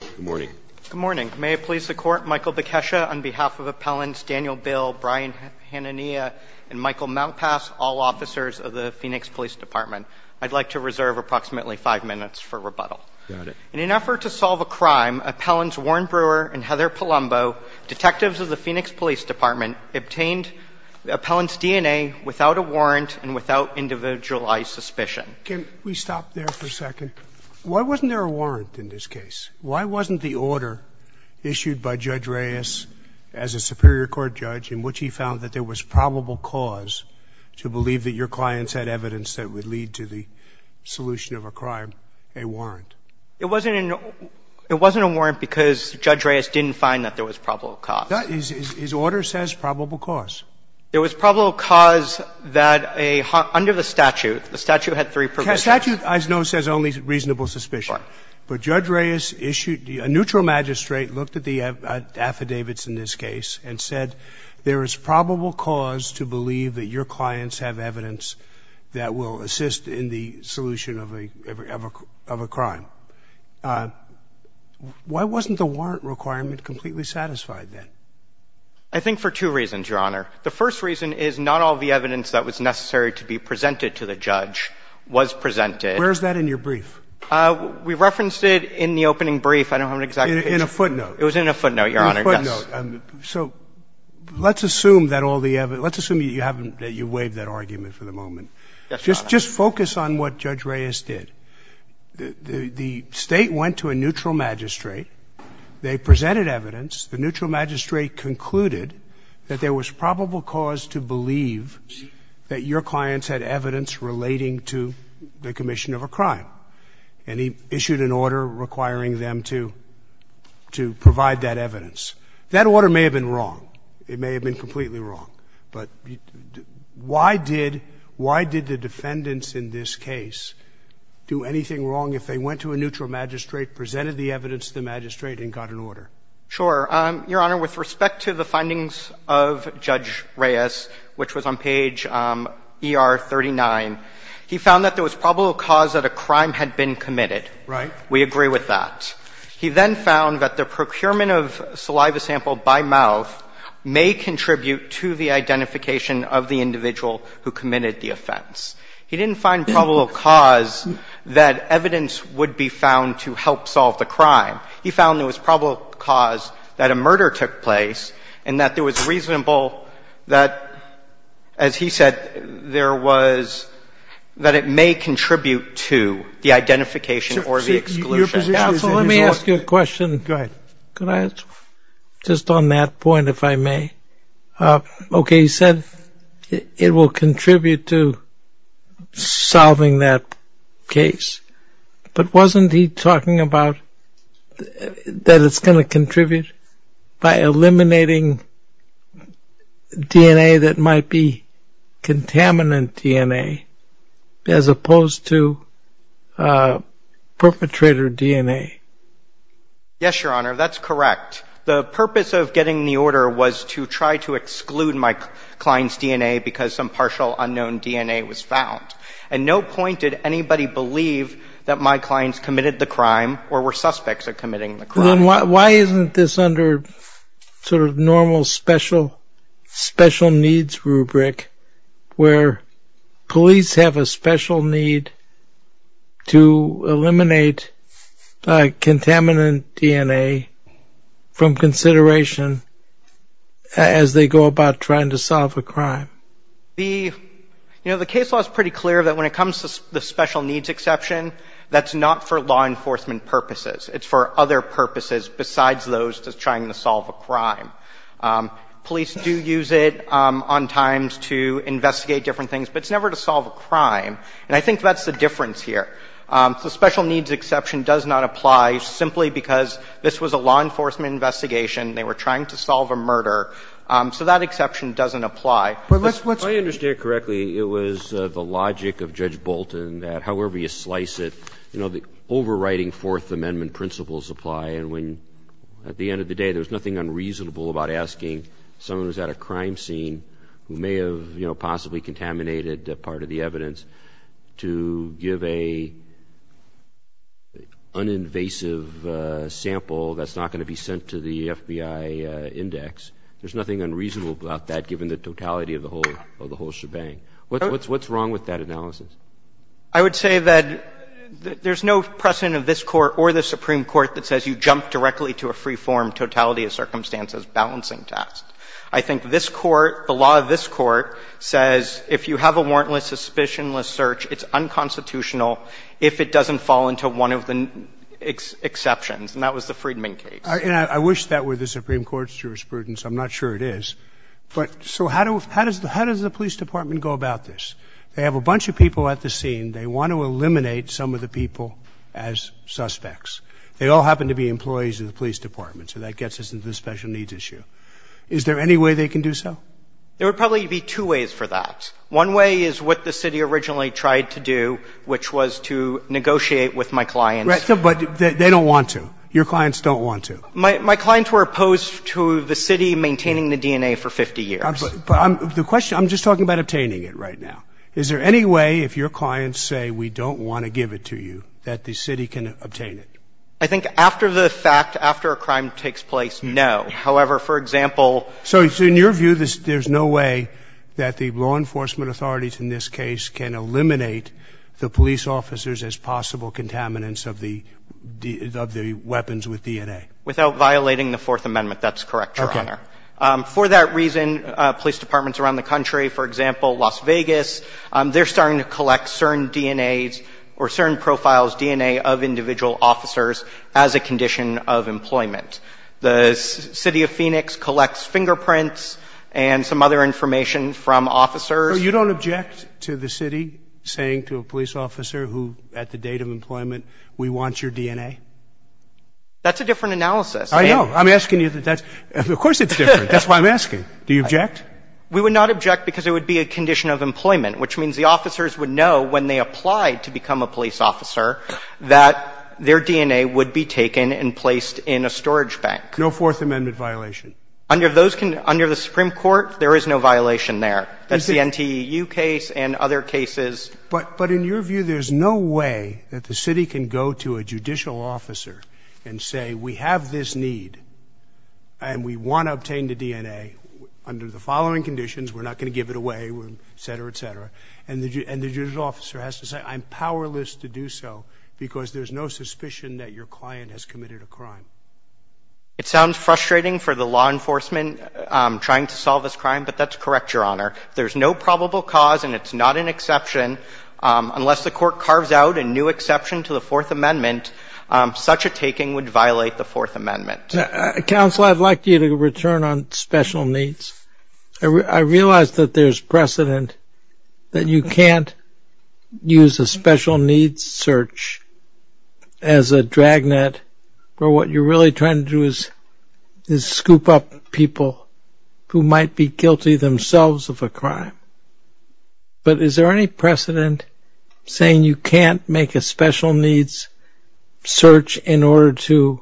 Good morning. Good morning. May it please the Court, Michael Bekesha, on behalf of Appellants Daniel Bill, Brian Hanania, and Michael Mountpass, all officers of the Phoenix Police Department, I'd like to reserve approximately five minutes for rebuttal. Got it. In an effort to solve a crime, Appellants Warren Brewer and Heather Palumbo, detectives of the Phoenix Police Department, obtained the appellant's DNA without a warrant and without individualized suspicion. Can we stop there for a second? Why wasn't there a warrant in this case? Why wasn't the order issued by Judge Reyes as a Superior Court judge in which he found that there was probable cause to believe that your clients had evidence that would lead to the solution of a crime a warrant? It wasn't a warrant because Judge Reyes didn't find that there was probable cause. His order says probable cause. There was probable cause that under the statute, the statute had three provisions. The statute, as I know, says only reasonable suspicion. Right. But Judge Reyes issued a neutral magistrate, looked at the affidavits in this case, and said there is probable cause to believe that your clients have evidence that will assist in the solution of a crime. Why wasn't the warrant requirement completely satisfied then? I think for two reasons, Your Honor. The first reason is not all the evidence that was necessary to be presented to the judge was presented. Where is that in your brief? We referenced it in the opening brief. I don't have an exact page. In a footnote. It was in a footnote, Your Honor. In a footnote. So let's assume that all the evidence – let's assume that you haven't – that you waived that argument for the moment. Yes, Your Honor. Just focus on what Judge Reyes did. The State went to a neutral magistrate. They presented evidence. The neutral magistrate concluded that there was probable cause to believe that your clients had evidence relating to the commission of a crime. And he issued an order requiring them to provide that evidence. That order may have been wrong. It may have been completely wrong. But why did the defendants in this case do anything wrong if they went to a neutral magistrate, presented the evidence to the magistrate, and got an order? Sure. Your Honor, with respect to the findings of Judge Reyes, which was on page ER39, he found that there was probable cause that a crime had been committed. Right. We agree with that. He then found that the procurement of saliva sample by mouth may contribute to the identification of the individual who committed the offense. He didn't find probable cause that evidence would be found to help solve the crime. He found there was probable cause that a murder took place and that there was reasonable that, as he said, there was that it may contribute to the identification or the exclusion. So let me ask you a question. Go ahead. Could I just on that point, if I may? Okay. He said it will contribute to solving that case. But wasn't he talking about that it's going to contribute by eliminating DNA that might be contaminant DNA, as opposed to perpetrator DNA? Yes, Your Honor. That's correct. The purpose of getting the order was to try to exclude my client's DNA because some partial unknown DNA was found. And no point did anybody believe that my clients committed the crime or were suspects of committing the crime. Then why isn't this under sort of normal special needs rubric, where police have a special need to eliminate contaminant DNA from consideration as they go about trying to solve a crime? You know, the case law is pretty clear that when it comes to the special needs exception, that's not for law enforcement purposes. It's for other purposes besides those to trying to solve a crime. Police do use it on times to investigate different things, but it's never to solve a crime. And I think that's the difference here. The special needs exception does not apply simply because this was a law enforcement investigation. They were trying to solve a murder. So that exception doesn't apply. If I understand correctly, it was the logic of Judge Bolton that however you slice it, you know, the overriding Fourth Amendment principles apply. And when, at the end of the day, there was nothing unreasonable about asking someone who's at a crime scene who may have, you know, possibly contaminated part of the evidence to give a un-invasive sample that's not going to be sent to the FBI index. There's nothing unreasonable about that, given the totality of the whole shebang. What's wrong with that analysis? I would say that there's no precedent of this Court or the Supreme Court that says you jump directly to a free-form totality of circumstances balancing test. I think this Court, the law of this Court, says if you have a warrantless, suspicionless search, it's unconstitutional if it doesn't fall into one of the exceptions, and that was the Friedman case. And I wish that were the Supreme Court's jurisprudence. I'm not sure it is. But so how does the police department go about this? They have a bunch of people at the scene. They want to eliminate some of the people as suspects. They all happen to be employees of the police department, so that gets us into the special needs issue. Is there any way they can do so? There would probably be two ways for that. One way is what the city originally tried to do, which was to negotiate with my clients. But they don't want to. Your clients don't want to. My clients were opposed to the city maintaining the DNA for 50 years. But the question, I'm just talking about obtaining it right now. Is there any way, if your clients say we don't want to give it to you, that the city can obtain it? I think after the fact, after a crime takes place, no. However, for example. So in your view, there's no way that the law enforcement authorities in this case can eliminate the police officers as possible contaminants of the weapons with DNA? Without violating the Fourth Amendment. That's correct, Your Honor. Okay. For that reason, police departments around the country, for example, Las Vegas, they're starting to collect CERN DNAs or CERN profiles DNA of individual officers as a condition of employment. The city of Phoenix collects fingerprints and some other information from officers. So you don't object to the city saying to a police officer who, at the date of employment, we want your DNA? That's a different analysis. I know. I'm asking you. Of course it's different. That's why I'm asking. Do you object? We would not object because it would be a condition of employment, which means the officers would know when they applied to become a police officer that their DNA would be taken and placed in a storage bank. No Fourth Amendment violation. Under the Supreme Court, there is no violation there. That's the NTEU case and other cases. But in your view, there's no way that the city can go to a judicial officer and say we have this need and we want to obtain the DNA under the following conditions. We're not going to give it away, et cetera, et cetera. And the judicial officer has to say I'm powerless to do so because there's no suspicion that your client has committed a crime. It sounds frustrating for the law enforcement trying to solve this crime, but that's And I would like to correct your Honor. There's no probable cause and it's not an exception. Unless the court carves out a new exception to the Fourth Amendment, such a taking would violate the Fourth Amendment. Counsel, I'd like you to return on special needs. I realize that there's precedent that you can't use a special needs search as a But is there any precedent saying you can't make a special needs search in order to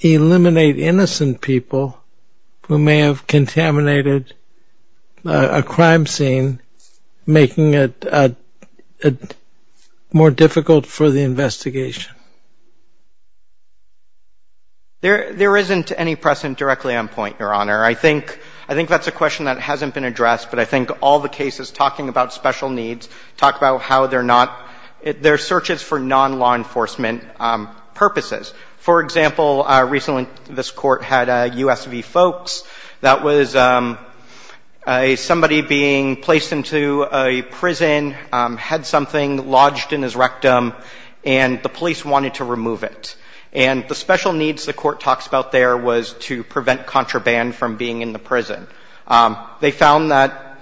eliminate innocent people who may have contaminated a crime scene, making it more difficult for the investigation? There isn't any precedent directly on point, Your Honor. I think that's a question that hasn't been addressed, but I think all the cases talking about special needs talk about how they're not, they're searches for non-law enforcement purposes. For example, recently this court had a USV folks. That was somebody being placed into a prison, had something lodged in his rectum, and the police wanted to remove it. And the special needs the court talks about there was to prevent contraband from being in the prison. They found that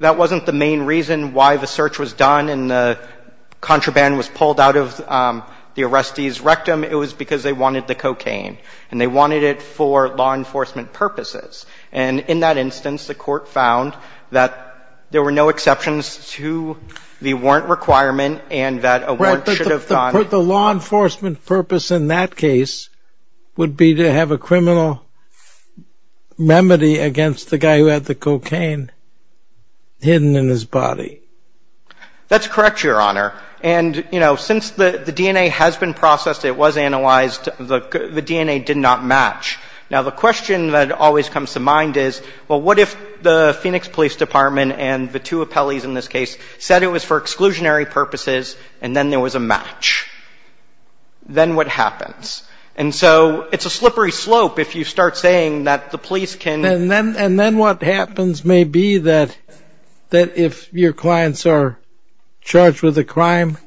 that wasn't the main reason why the search was done and the contraband was pulled out of the arrestee's rectum. It was because they wanted the cocaine. And they wanted it for law enforcement purposes. And in that instance, the court found that there were no exceptions to the warrant requirement and that a warrant should have gone. But the law enforcement purpose in that case would be to have a criminal remedy against the guy who had the cocaine hidden in his body. That's correct, Your Honor. And since the DNA has been processed, it was analyzed, the DNA did not match. Now, the question that always comes to mind is, well, what if the Phoenix Police Department and the two appellees in this case said it was for exclusionary purposes and then there was a match? Then what happens? And so it's a slippery slope if you start saying that the police can — And then what happens may be that if your clients are charged with a crime,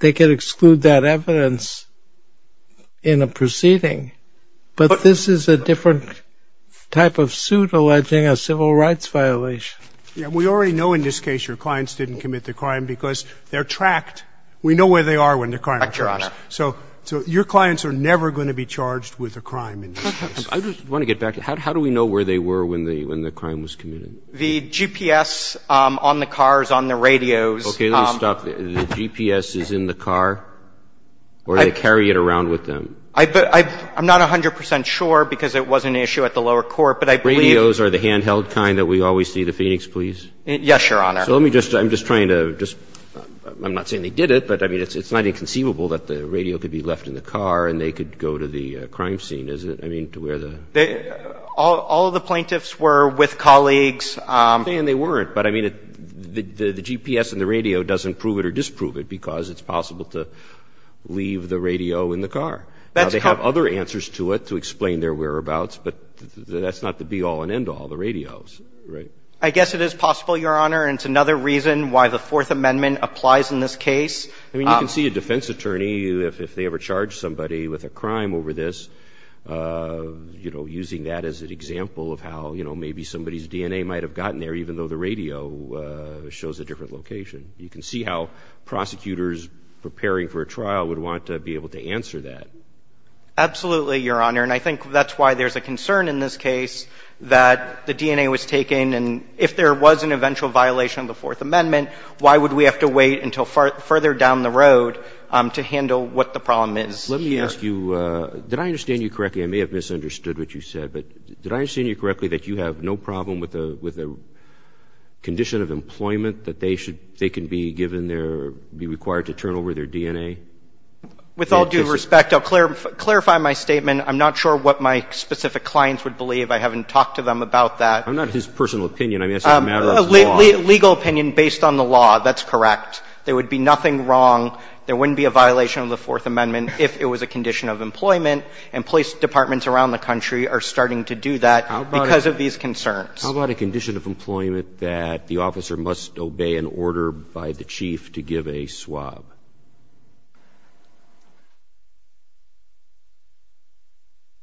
they can exclude that evidence in a proceeding. But this is a different type of suit alleging a civil rights violation. Yeah. We already know in this case your clients didn't commit the crime because they're tracked. We know where they are when the crime occurs. Right, Your Honor. So your clients are never going to be charged with a crime in this case. I just want to get back to how do we know where they were when the crime was committed? The GPS on the cars, on the radios. Okay. Let me stop. The GPS is in the car or they carry it around with them? I'm not 100 percent sure because it was an issue at the lower court, but I believe The radios are the handheld kind that we always see, the Phoenix police? Yes, Your Honor. So let me just — I'm just trying to just — I'm not saying they did it, but I mean, it's not inconceivable that the radio could be left in the car and they could go to the crime scene, is it? I mean, to where the — All of the plaintiffs were with colleagues. And they weren't. But I mean, the GPS and the radio doesn't prove it or disprove it because it's possible to leave the radio in the car. Now, they have other answers to it to explain their whereabouts, but that's not the all-in-end-all, the radios, right? I guess it is possible, Your Honor, and it's another reason why the Fourth Amendment applies in this case. I mean, you can see a defense attorney, if they ever charge somebody with a crime over this, you know, using that as an example of how, you know, maybe somebody's DNA might have gotten there even though the radio shows a different location. You can see how prosecutors preparing for a trial would want to be able to answer that. Absolutely, Your Honor. And I think that's why there's a concern in this case that the DNA was taken. And if there was an eventual violation of the Fourth Amendment, why would we have to wait until further down the road to handle what the problem is here? Let me ask you, did I understand you correctly? I may have misunderstood what you said. But did I understand you correctly that you have no problem with the condition of employment that they should — they can be given their — be required to turn over their DNA? With all due respect, I'll clarify my statement. I'm not sure what my specific clients would believe. I haven't talked to them about that. I'm not his personal opinion. I mean, it's a matter of law. Legal opinion based on the law. That's correct. There would be nothing wrong. There wouldn't be a violation of the Fourth Amendment if it was a condition of employment, and police departments around the country are starting to do that because of these concerns. How about a condition of employment that the officer must obey an order by the chief to give a swab?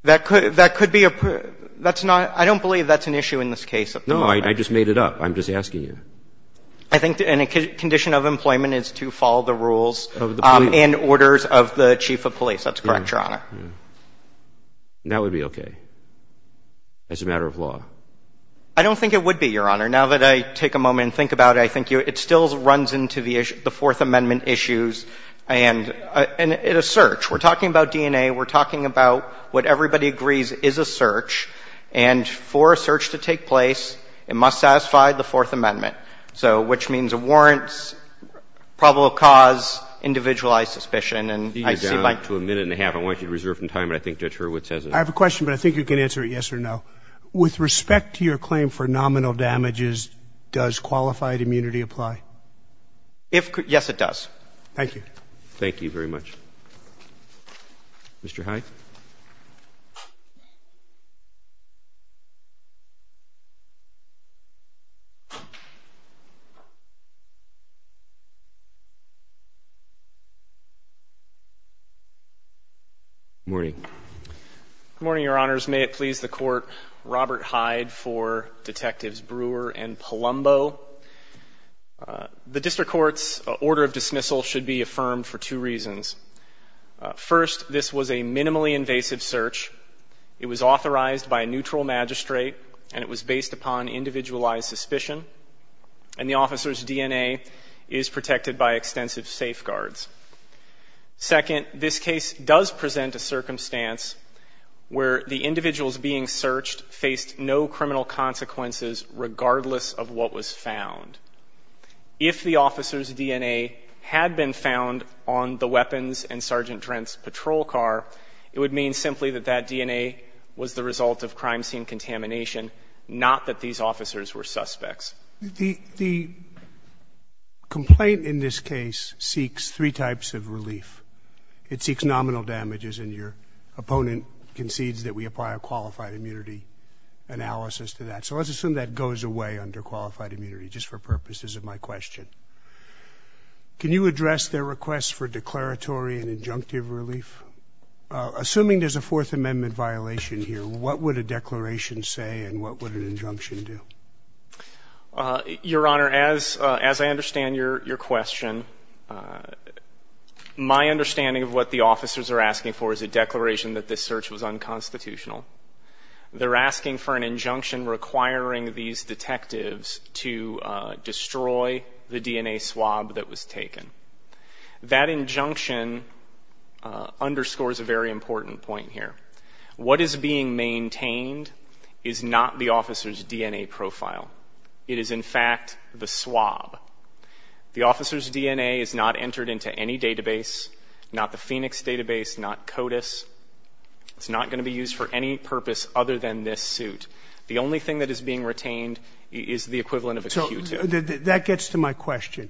That could — that could be a — that's not — I don't believe that's an issue in this case. No, I just made it up. I'm just asking you. I think a condition of employment is to follow the rules and orders of the chief of police. That's correct, Your Honor. That would be okay as a matter of law. I don't think it would be, Your Honor. Now that I take a moment and think about it, I think it still runs into the Fourth Amendment issues and a search. We're talking about DNA. We're talking about what everybody agrees is a search, and for a search to take place, it must satisfy the Fourth Amendment, so — which means a warrant, probable cause, individualized suspicion, and I see my — You're down to a minute and a half. I want you to reserve some time, but I think Judge Hurwitz has a — I have a question, but I think you can answer it yes or no. With respect to your claim for nominal damages, does qualified immunity apply? If — yes, it does. Thank you. Thank you very much. Mr. Hyde. Good morning, Your Honors. May it please the Court, Robert Hyde for Detectives Brewer and Palumbo. The district court's order of dismissal should be affirmed for two reasons. First, this was a minimally invasive search. It was authorized by a neutral magistrate, and it was based upon individualized suspicion, and the officer's DNA is protected by extensive safeguards. Second, this case does present a circumstance where the individuals being searched faced no criminal consequences regardless of what was found. If the officer's DNA had been found on the weapons in Sergeant Trent's patrol car, it would mean simply that that DNA was the result of crime scene contamination, not that these officers were suspects. The complaint in this case seeks three types of relief. It seeks nominal damages, and your opponent concedes that we apply a qualified immunity analysis to that. So let's assume that goes away under qualified immunity just for purposes of my question. Can you address their request for declaratory and injunctive relief? Assuming there's a Fourth Amendment violation here, what would a declaration say and what would an injunction do? Your Honor, as I understand your question, my understanding of what the officers are asking for is a declaration that this search was unconstitutional. They're asking for an injunction requiring these detectives to destroy the DNA swab that was taken. That injunction underscores a very important point here. What is being maintained is not the officer's DNA profile. It is, in fact, the swab. The officer's DNA is not entered into any database, not the Phoenix database, not CODIS. It's not going to be used for any purpose other than this suit. The only thing that is being retained is the equivalent of a Q-tip. So that gets to my question.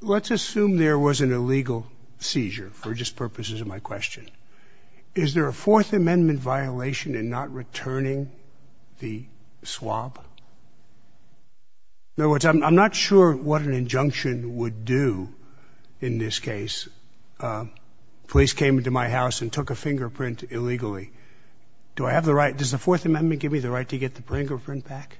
Let's assume there was an illegal seizure for just purposes of my question. Is there a Fourth Amendment violation in not returning the swab? In other words, I'm not sure what an injunction would do in this case. Police came into my house and took a fingerprint illegally. Do I have the right? Does the Fourth Amendment give me the right to get the fingerprint back?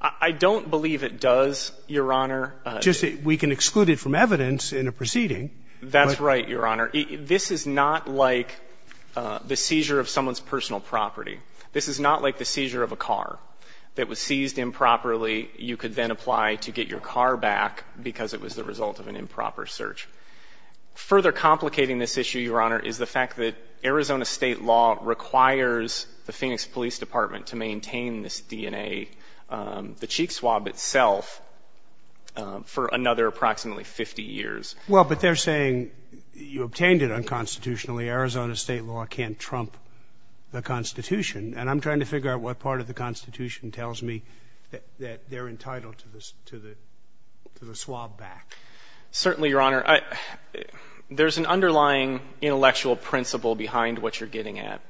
I don't believe it does, Your Honor. Just that we can exclude it from evidence in a proceeding. That's right, Your Honor. This is not like the seizure of someone's personal property. This is not like the seizure of a car that was seized improperly. You could then apply to get your car back because it was the result of an improper search. Further complicating this issue, Your Honor, is the fact that Arizona State law requires the Phoenix Police Department to maintain this DNA, the cheek swab itself, for another approximately 50 years. Well, but they're saying you obtained it unconstitutionally. Arizona State law can't trump the Constitution. And I'm trying to figure out what part of the Constitution tells me that they're entitled to the swab back. Certainly, Your Honor. There's an underlying intellectual principle behind what you're getting at.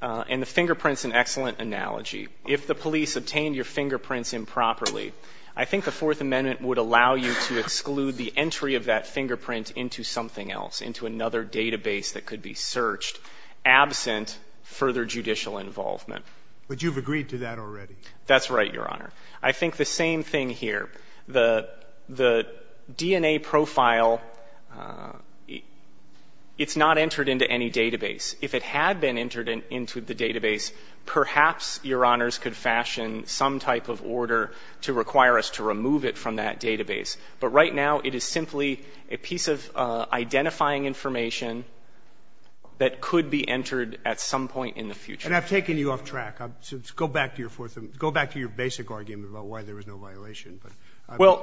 And the fingerprint's an excellent analogy. If the police obtained your fingerprints improperly, I think the Fourth Amendment would allow you to exclude the entry of that fingerprint into something else, into another database that could be searched, absent further judicial involvement. But you've agreed to that already. That's right, Your Honor. I think the same thing here. The DNA profile, it's not entered into any database. If it had been entered into the database, perhaps, Your Honors, could fashion some type of order to require us to remove it from that database. But right now, it is simply a piece of identifying information that could be entered at some point in the future. And I've taken you off track. Go back to your Fourth Amendment. Go back to your basic argument about why there was no violation. But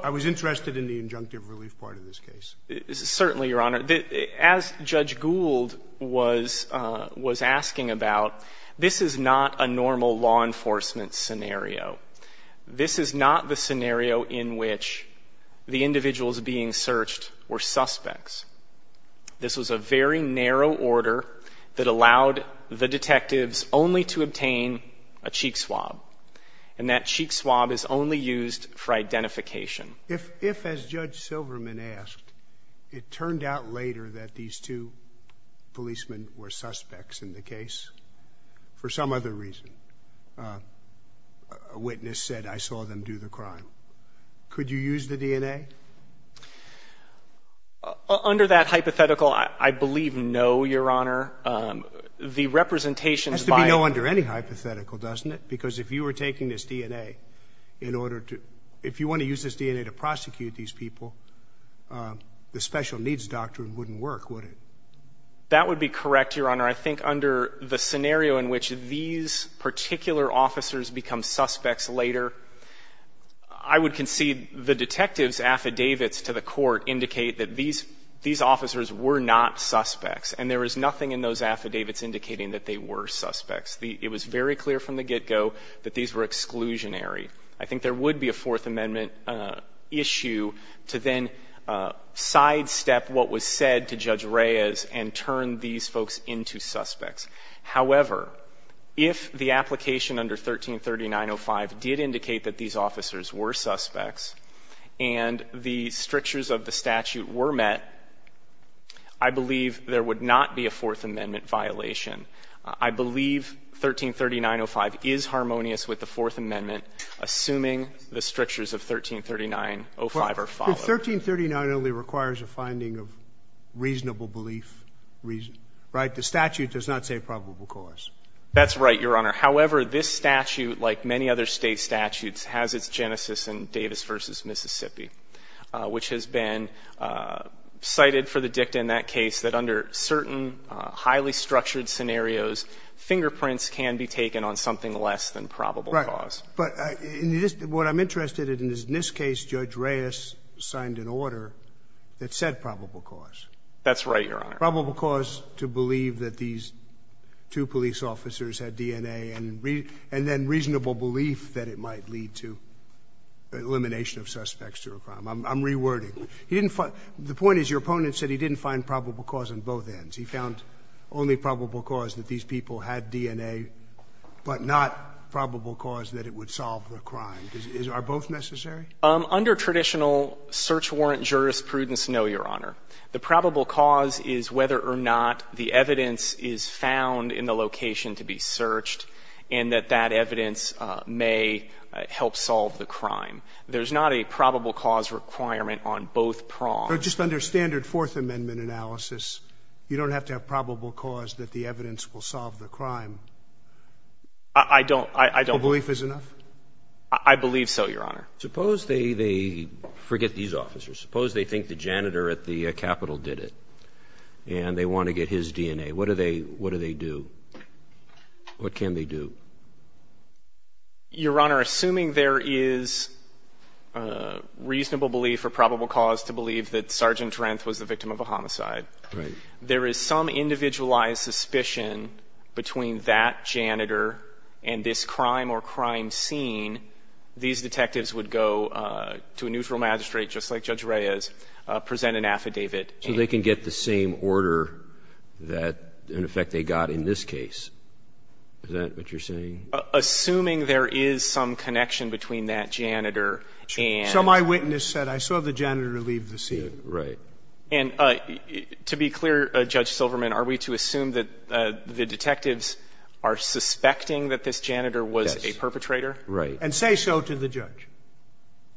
I was interested in the injunctive relief part of this case. Certainly, Your Honor. As Judge Gould was asking about, this is not a normal law enforcement scenario. This is not the scenario in which the individuals being searched were suspects. This was a very narrow order that allowed the detectives only to obtain a cheek swab. And that cheek swab is only used for identification. If, as Judge Silverman asked, it turned out later that these two policemen were suspects in the case for some other reason, a witness said, I saw them do the crime, could you use the DNA? Under that hypothetical, I believe no, Your Honor. The representations by— It has to be no under any hypothetical, doesn't it? Because if you were taking this DNA in order to— if you want to use this DNA to prosecute these people, the special needs doctrine wouldn't work, would it? That would be correct, Your Honor. I think under the scenario in which these particular officers become suspects later, I would concede the detectives' affidavits to the court indicate that these officers were not suspects. And there was nothing in those affidavits indicating that they were suspects. It was very clear from the get-go that these were exclusionary. I think there would be a Fourth Amendment issue to then sidestep what was said to Judge Reyes and turn these folks into suspects. However, if the application under 133905 did indicate that these officers were suspects and the strictures of the statute were met, I believe there would not be a Fourth Amendment violation. I believe 133905 is harmonious with the Fourth Amendment, assuming the strictures of 133905 are followed. But 1339 only requires a finding of reasonable belief, right? The statute does not say probable cause. That's right, Your Honor. However, this statute, like many other State statutes, has its genesis in Davis v. Mississippi, which has been cited for the dicta in that case that under certain highly structured scenarios, fingerprints can be taken on something less than probable cause. Right. But what I'm interested in is in this case, Judge Reyes signed an order that said probable cause. That's right, Your Honor. Probable cause to believe that these two police officers had DNA and then reasonable belief that it might lead to elimination of suspects to a crime. I'm rewording. The point is your opponent said he didn't find probable cause on both ends. He found only probable cause that these people had DNA, but not probable cause that it would solve the crime. Are both necessary? Under traditional search warrant jurisprudence, no, Your Honor. The probable cause is whether or not the evidence is found in the location to be searched and that that evidence may help solve the crime. There's not a probable cause requirement on both prongs. So just under standard Fourth Amendment analysis, you don't have to have probable cause that the evidence will solve the crime? I don't. The belief is enough? I believe so, Your Honor. Suppose they forget these officers. Suppose they think the janitor at the Capitol did it and they want to get his DNA. What do they do? What can they do? Your Honor, assuming there is reasonable belief or probable cause to believe that Sergeant Renth was the victim of a homicide, there is some individualized suspicion between that janitor and this crime or crime scene. These detectives would go to a neutral magistrate, just like Judge Reyes, present an affidavit. So they can get the same order that, in effect, they got in this case. Is that what you're saying? Assuming there is some connection between that janitor and the crime scene. So my witness said, I saw the janitor leave the scene. Right. And to be clear, Judge Silverman, are we to assume that the detectives are suspecting that this janitor was a perpetrator? Yes. Right. And say so to the judge.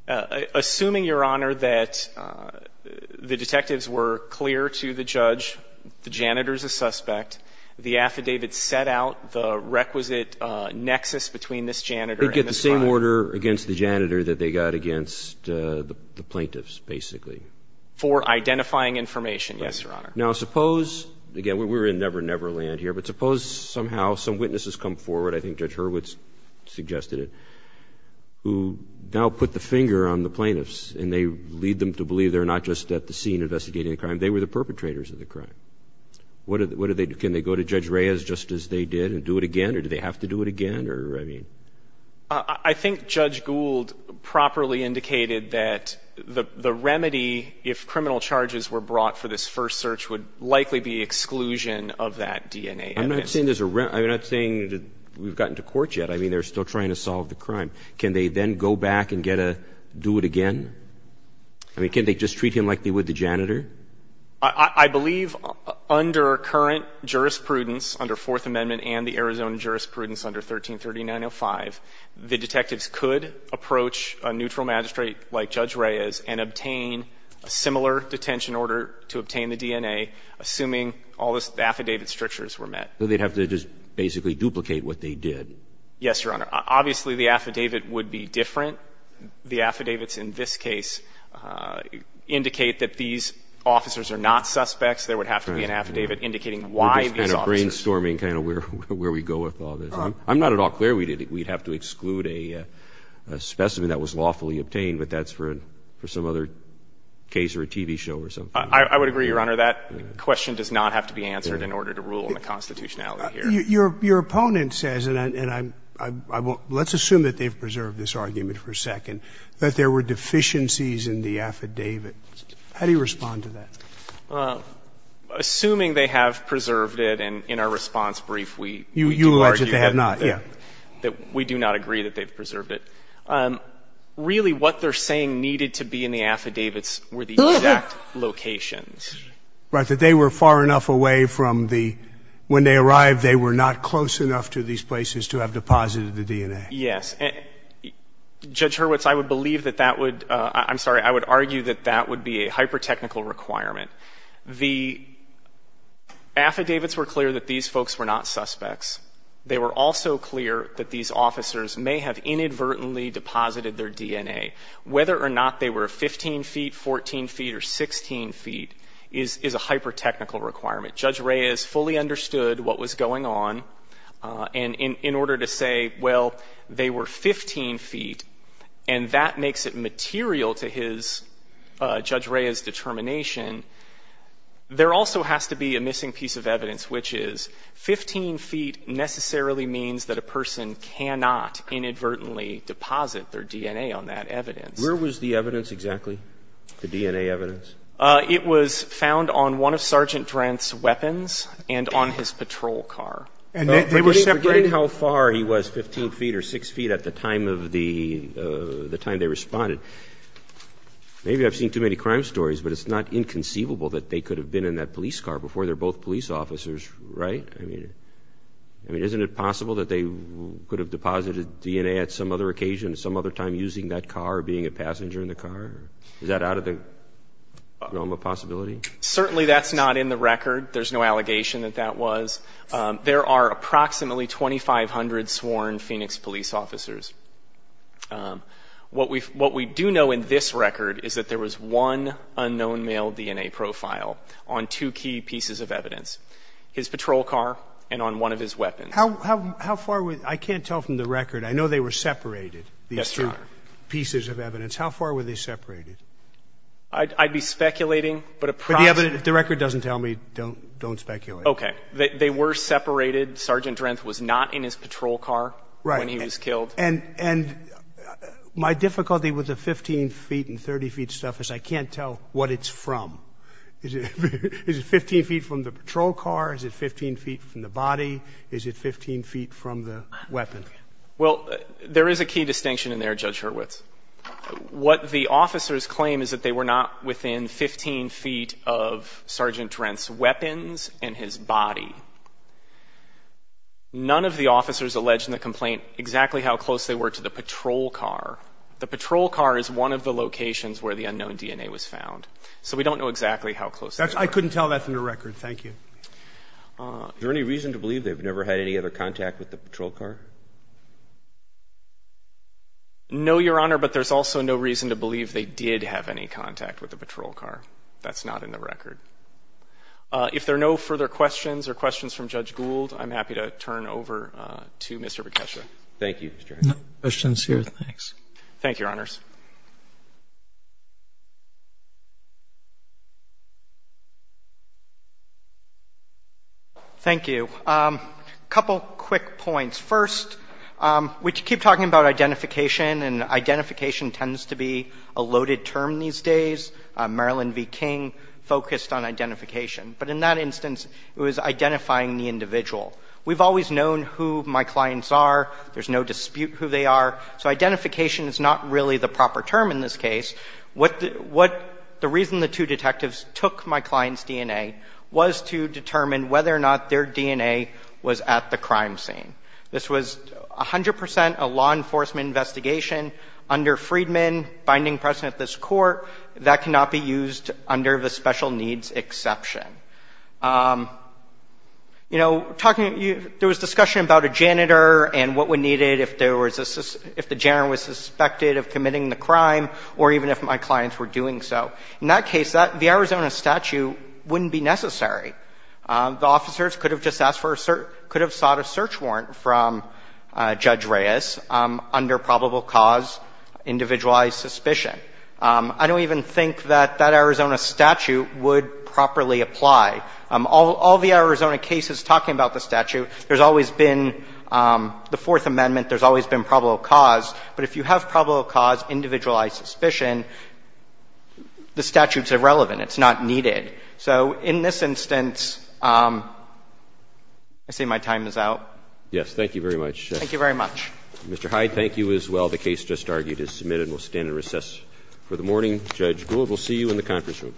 Assuming, Your Honor, that the detectives were clear to the judge, the janitor is a suspect, the affidavit set out the requisite nexus between this janitor and this crime. They'd get the same order against the janitor that they got against the plaintiffs, basically. For identifying information, yes, Your Honor. Now suppose, again, we're in Never Never Land here, but suppose somehow some witnesses come forward, I think Judge Hurwitz suggested it, who now put the finger on the plaintiffs and they lead them to believe they're not just at the scene investigating the crime. They were the perpetrators of the crime. What do they do? Can they go to Judge Reyes just as they did and do it again, or do they have to do it again? I think Judge Gould properly indicated that the remedy, if criminal charges were brought for this first search, would likely be exclusion of that DNA evidence. I'm not saying there's a remedy. I'm not saying we've gotten to court yet. I mean, they're still trying to solve the crime. Can they then go back and get a do it again? I mean, can't they just treat him like they would the janitor? I believe under current jurisprudence, under Fourth Amendment and the Arizona jurisprudence under 133905, the detectives could approach a neutral magistrate like Judge Reyes and obtain a similar detention order to obtain the DNA, assuming all the affidavit strictures were met. So they'd have to just basically duplicate what they did. Yes, Your Honor. Obviously, the affidavit would be different. The affidavits in this case indicate that these officers are not suspects. There would have to be an affidavit indicating why these officers. We're just kind of brainstorming kind of where we go with all this. I'm not at all clear we'd have to exclude a specimen that was lawfully obtained, but that's for some other case or a TV show or something. I would agree, Your Honor. That question does not have to be answered in order to rule in the constitutionality here. Your opponent says, and let's assume that they've preserved this argument for a second, that there were deficiencies in the affidavit. How do you respond to that? Assuming they have preserved it, and in our response brief we do argue that we do not agree that they've preserved it. Really, what they're saying needed to be in the affidavits were the exact locations that they were far enough away from the, when they arrived they were not close enough to these places to have deposited the DNA. Yes. Judge Hurwitz, I would believe that that would, I'm sorry, I would argue that that would be a hyper-technical requirement. The affidavits were clear that these folks were not suspects. They were also clear that these officers may have inadvertently deposited their DNA. Whether or not they were 15 feet, 14 feet, or 16 feet is a hyper-technical requirement. Judge Reyes fully understood what was going on, and in order to say, well, they were 15 feet, and that makes it material to his, Judge Reyes' determination, there also has to be a missing piece of evidence, which is 15 feet necessarily means that a person cannot inadvertently deposit their DNA on that evidence. Where was the evidence exactly? The DNA evidence? It was found on one of Sergeant Drenth's weapons and on his patrol car. They didn't forget how far he was, 15 feet or 6 feet, at the time of the, the time they responded. Maybe I've seen too many crime stories, but it's not inconceivable that they could have been in that police car before they're both police officers, right? I mean, isn't it possible that they could have deposited DNA at some other occasion, some other time using that car, being a passenger in the car? Is that out of the realm of possibility? Certainly that's not in the record. There's no allegation that that was. There are approximately 2,500 sworn Phoenix police officers. What we, what we do know in this record is that there was one unknown male DNA profile on two key pieces of evidence. His patrol car and on one of his weapons. How, how, how far was, I can't tell from the record. I know they were separated, these two pieces of evidence. How far were they separated? I'd, I'd be speculating, but approximately. If the record doesn't tell me, don't, don't speculate. Okay. They were separated. Sergeant Drenth was not in his patrol car when he was killed. Right. And, and my difficulty with the 15 feet and 30 feet stuff is I can't tell what it's from. Is it 15 feet from the patrol car? Is it 15 feet from the body? Is it 15 feet from the weapon? Well, there is a key distinction in there, Judge Hurwitz. What the officers claim is that they were not within 15 feet of Sergeant Drenth's weapons and his body. None of the officers alleged in the complaint exactly how close they were to the patrol car. The patrol car is one of the locations where the unknown DNA was found. So we don't know exactly how close they were. I couldn't tell that from the record. Thank you. Is there any reason to believe they've never had any other contact with the patrol car? No, Your Honor, but there's also no reason to believe they did have any contact with the patrol car. That's not in the record. If there are no further questions or questions from Judge Gould, I'm happy to turn over to Mr. Bekesha. Thank you, Mr. Hurwitz. No questions here. Thanks. Thank you, Your Honors. Thank you. A couple quick points. First, we keep talking about identification, and identification tends to be a loaded term these days. Marilyn V. King focused on identification. But in that instance, it was identifying the individual. We've always known who my clients are. There's no dispute who they are. So identification is not really the proper term in this case. The reason the two detectives took my client's DNA was to determine whether or not their DNA was at the crime scene. This was 100 percent a law enforcement investigation under Freedman binding precedent at this court. That cannot be used under the special needs exception. You know, there was discussion about a janitor and what would be needed if the janitor was suspected of committing the crime, or even if my clients were doing so. In that case, the Arizona statute wouldn't be necessary. The officers could have just sought a search warrant from Judge Reyes under probable cause individualized suspicion. I don't even think that that Arizona statute would properly apply. All the Arizona cases talking about the statute, there's always been the Fourth Amendment. There's always been probable cause. But if you have probable cause individualized suspicion, the statute's irrelevant. It's not needed. So in this instance, I say my time is out. Roberts. Yes. Thank you very much. Thank you very much. Mr. Hyde, thank you as well. The case just argued is submitted. We'll stand and recess for the morning. Judge Gould, we'll see you in the conference room.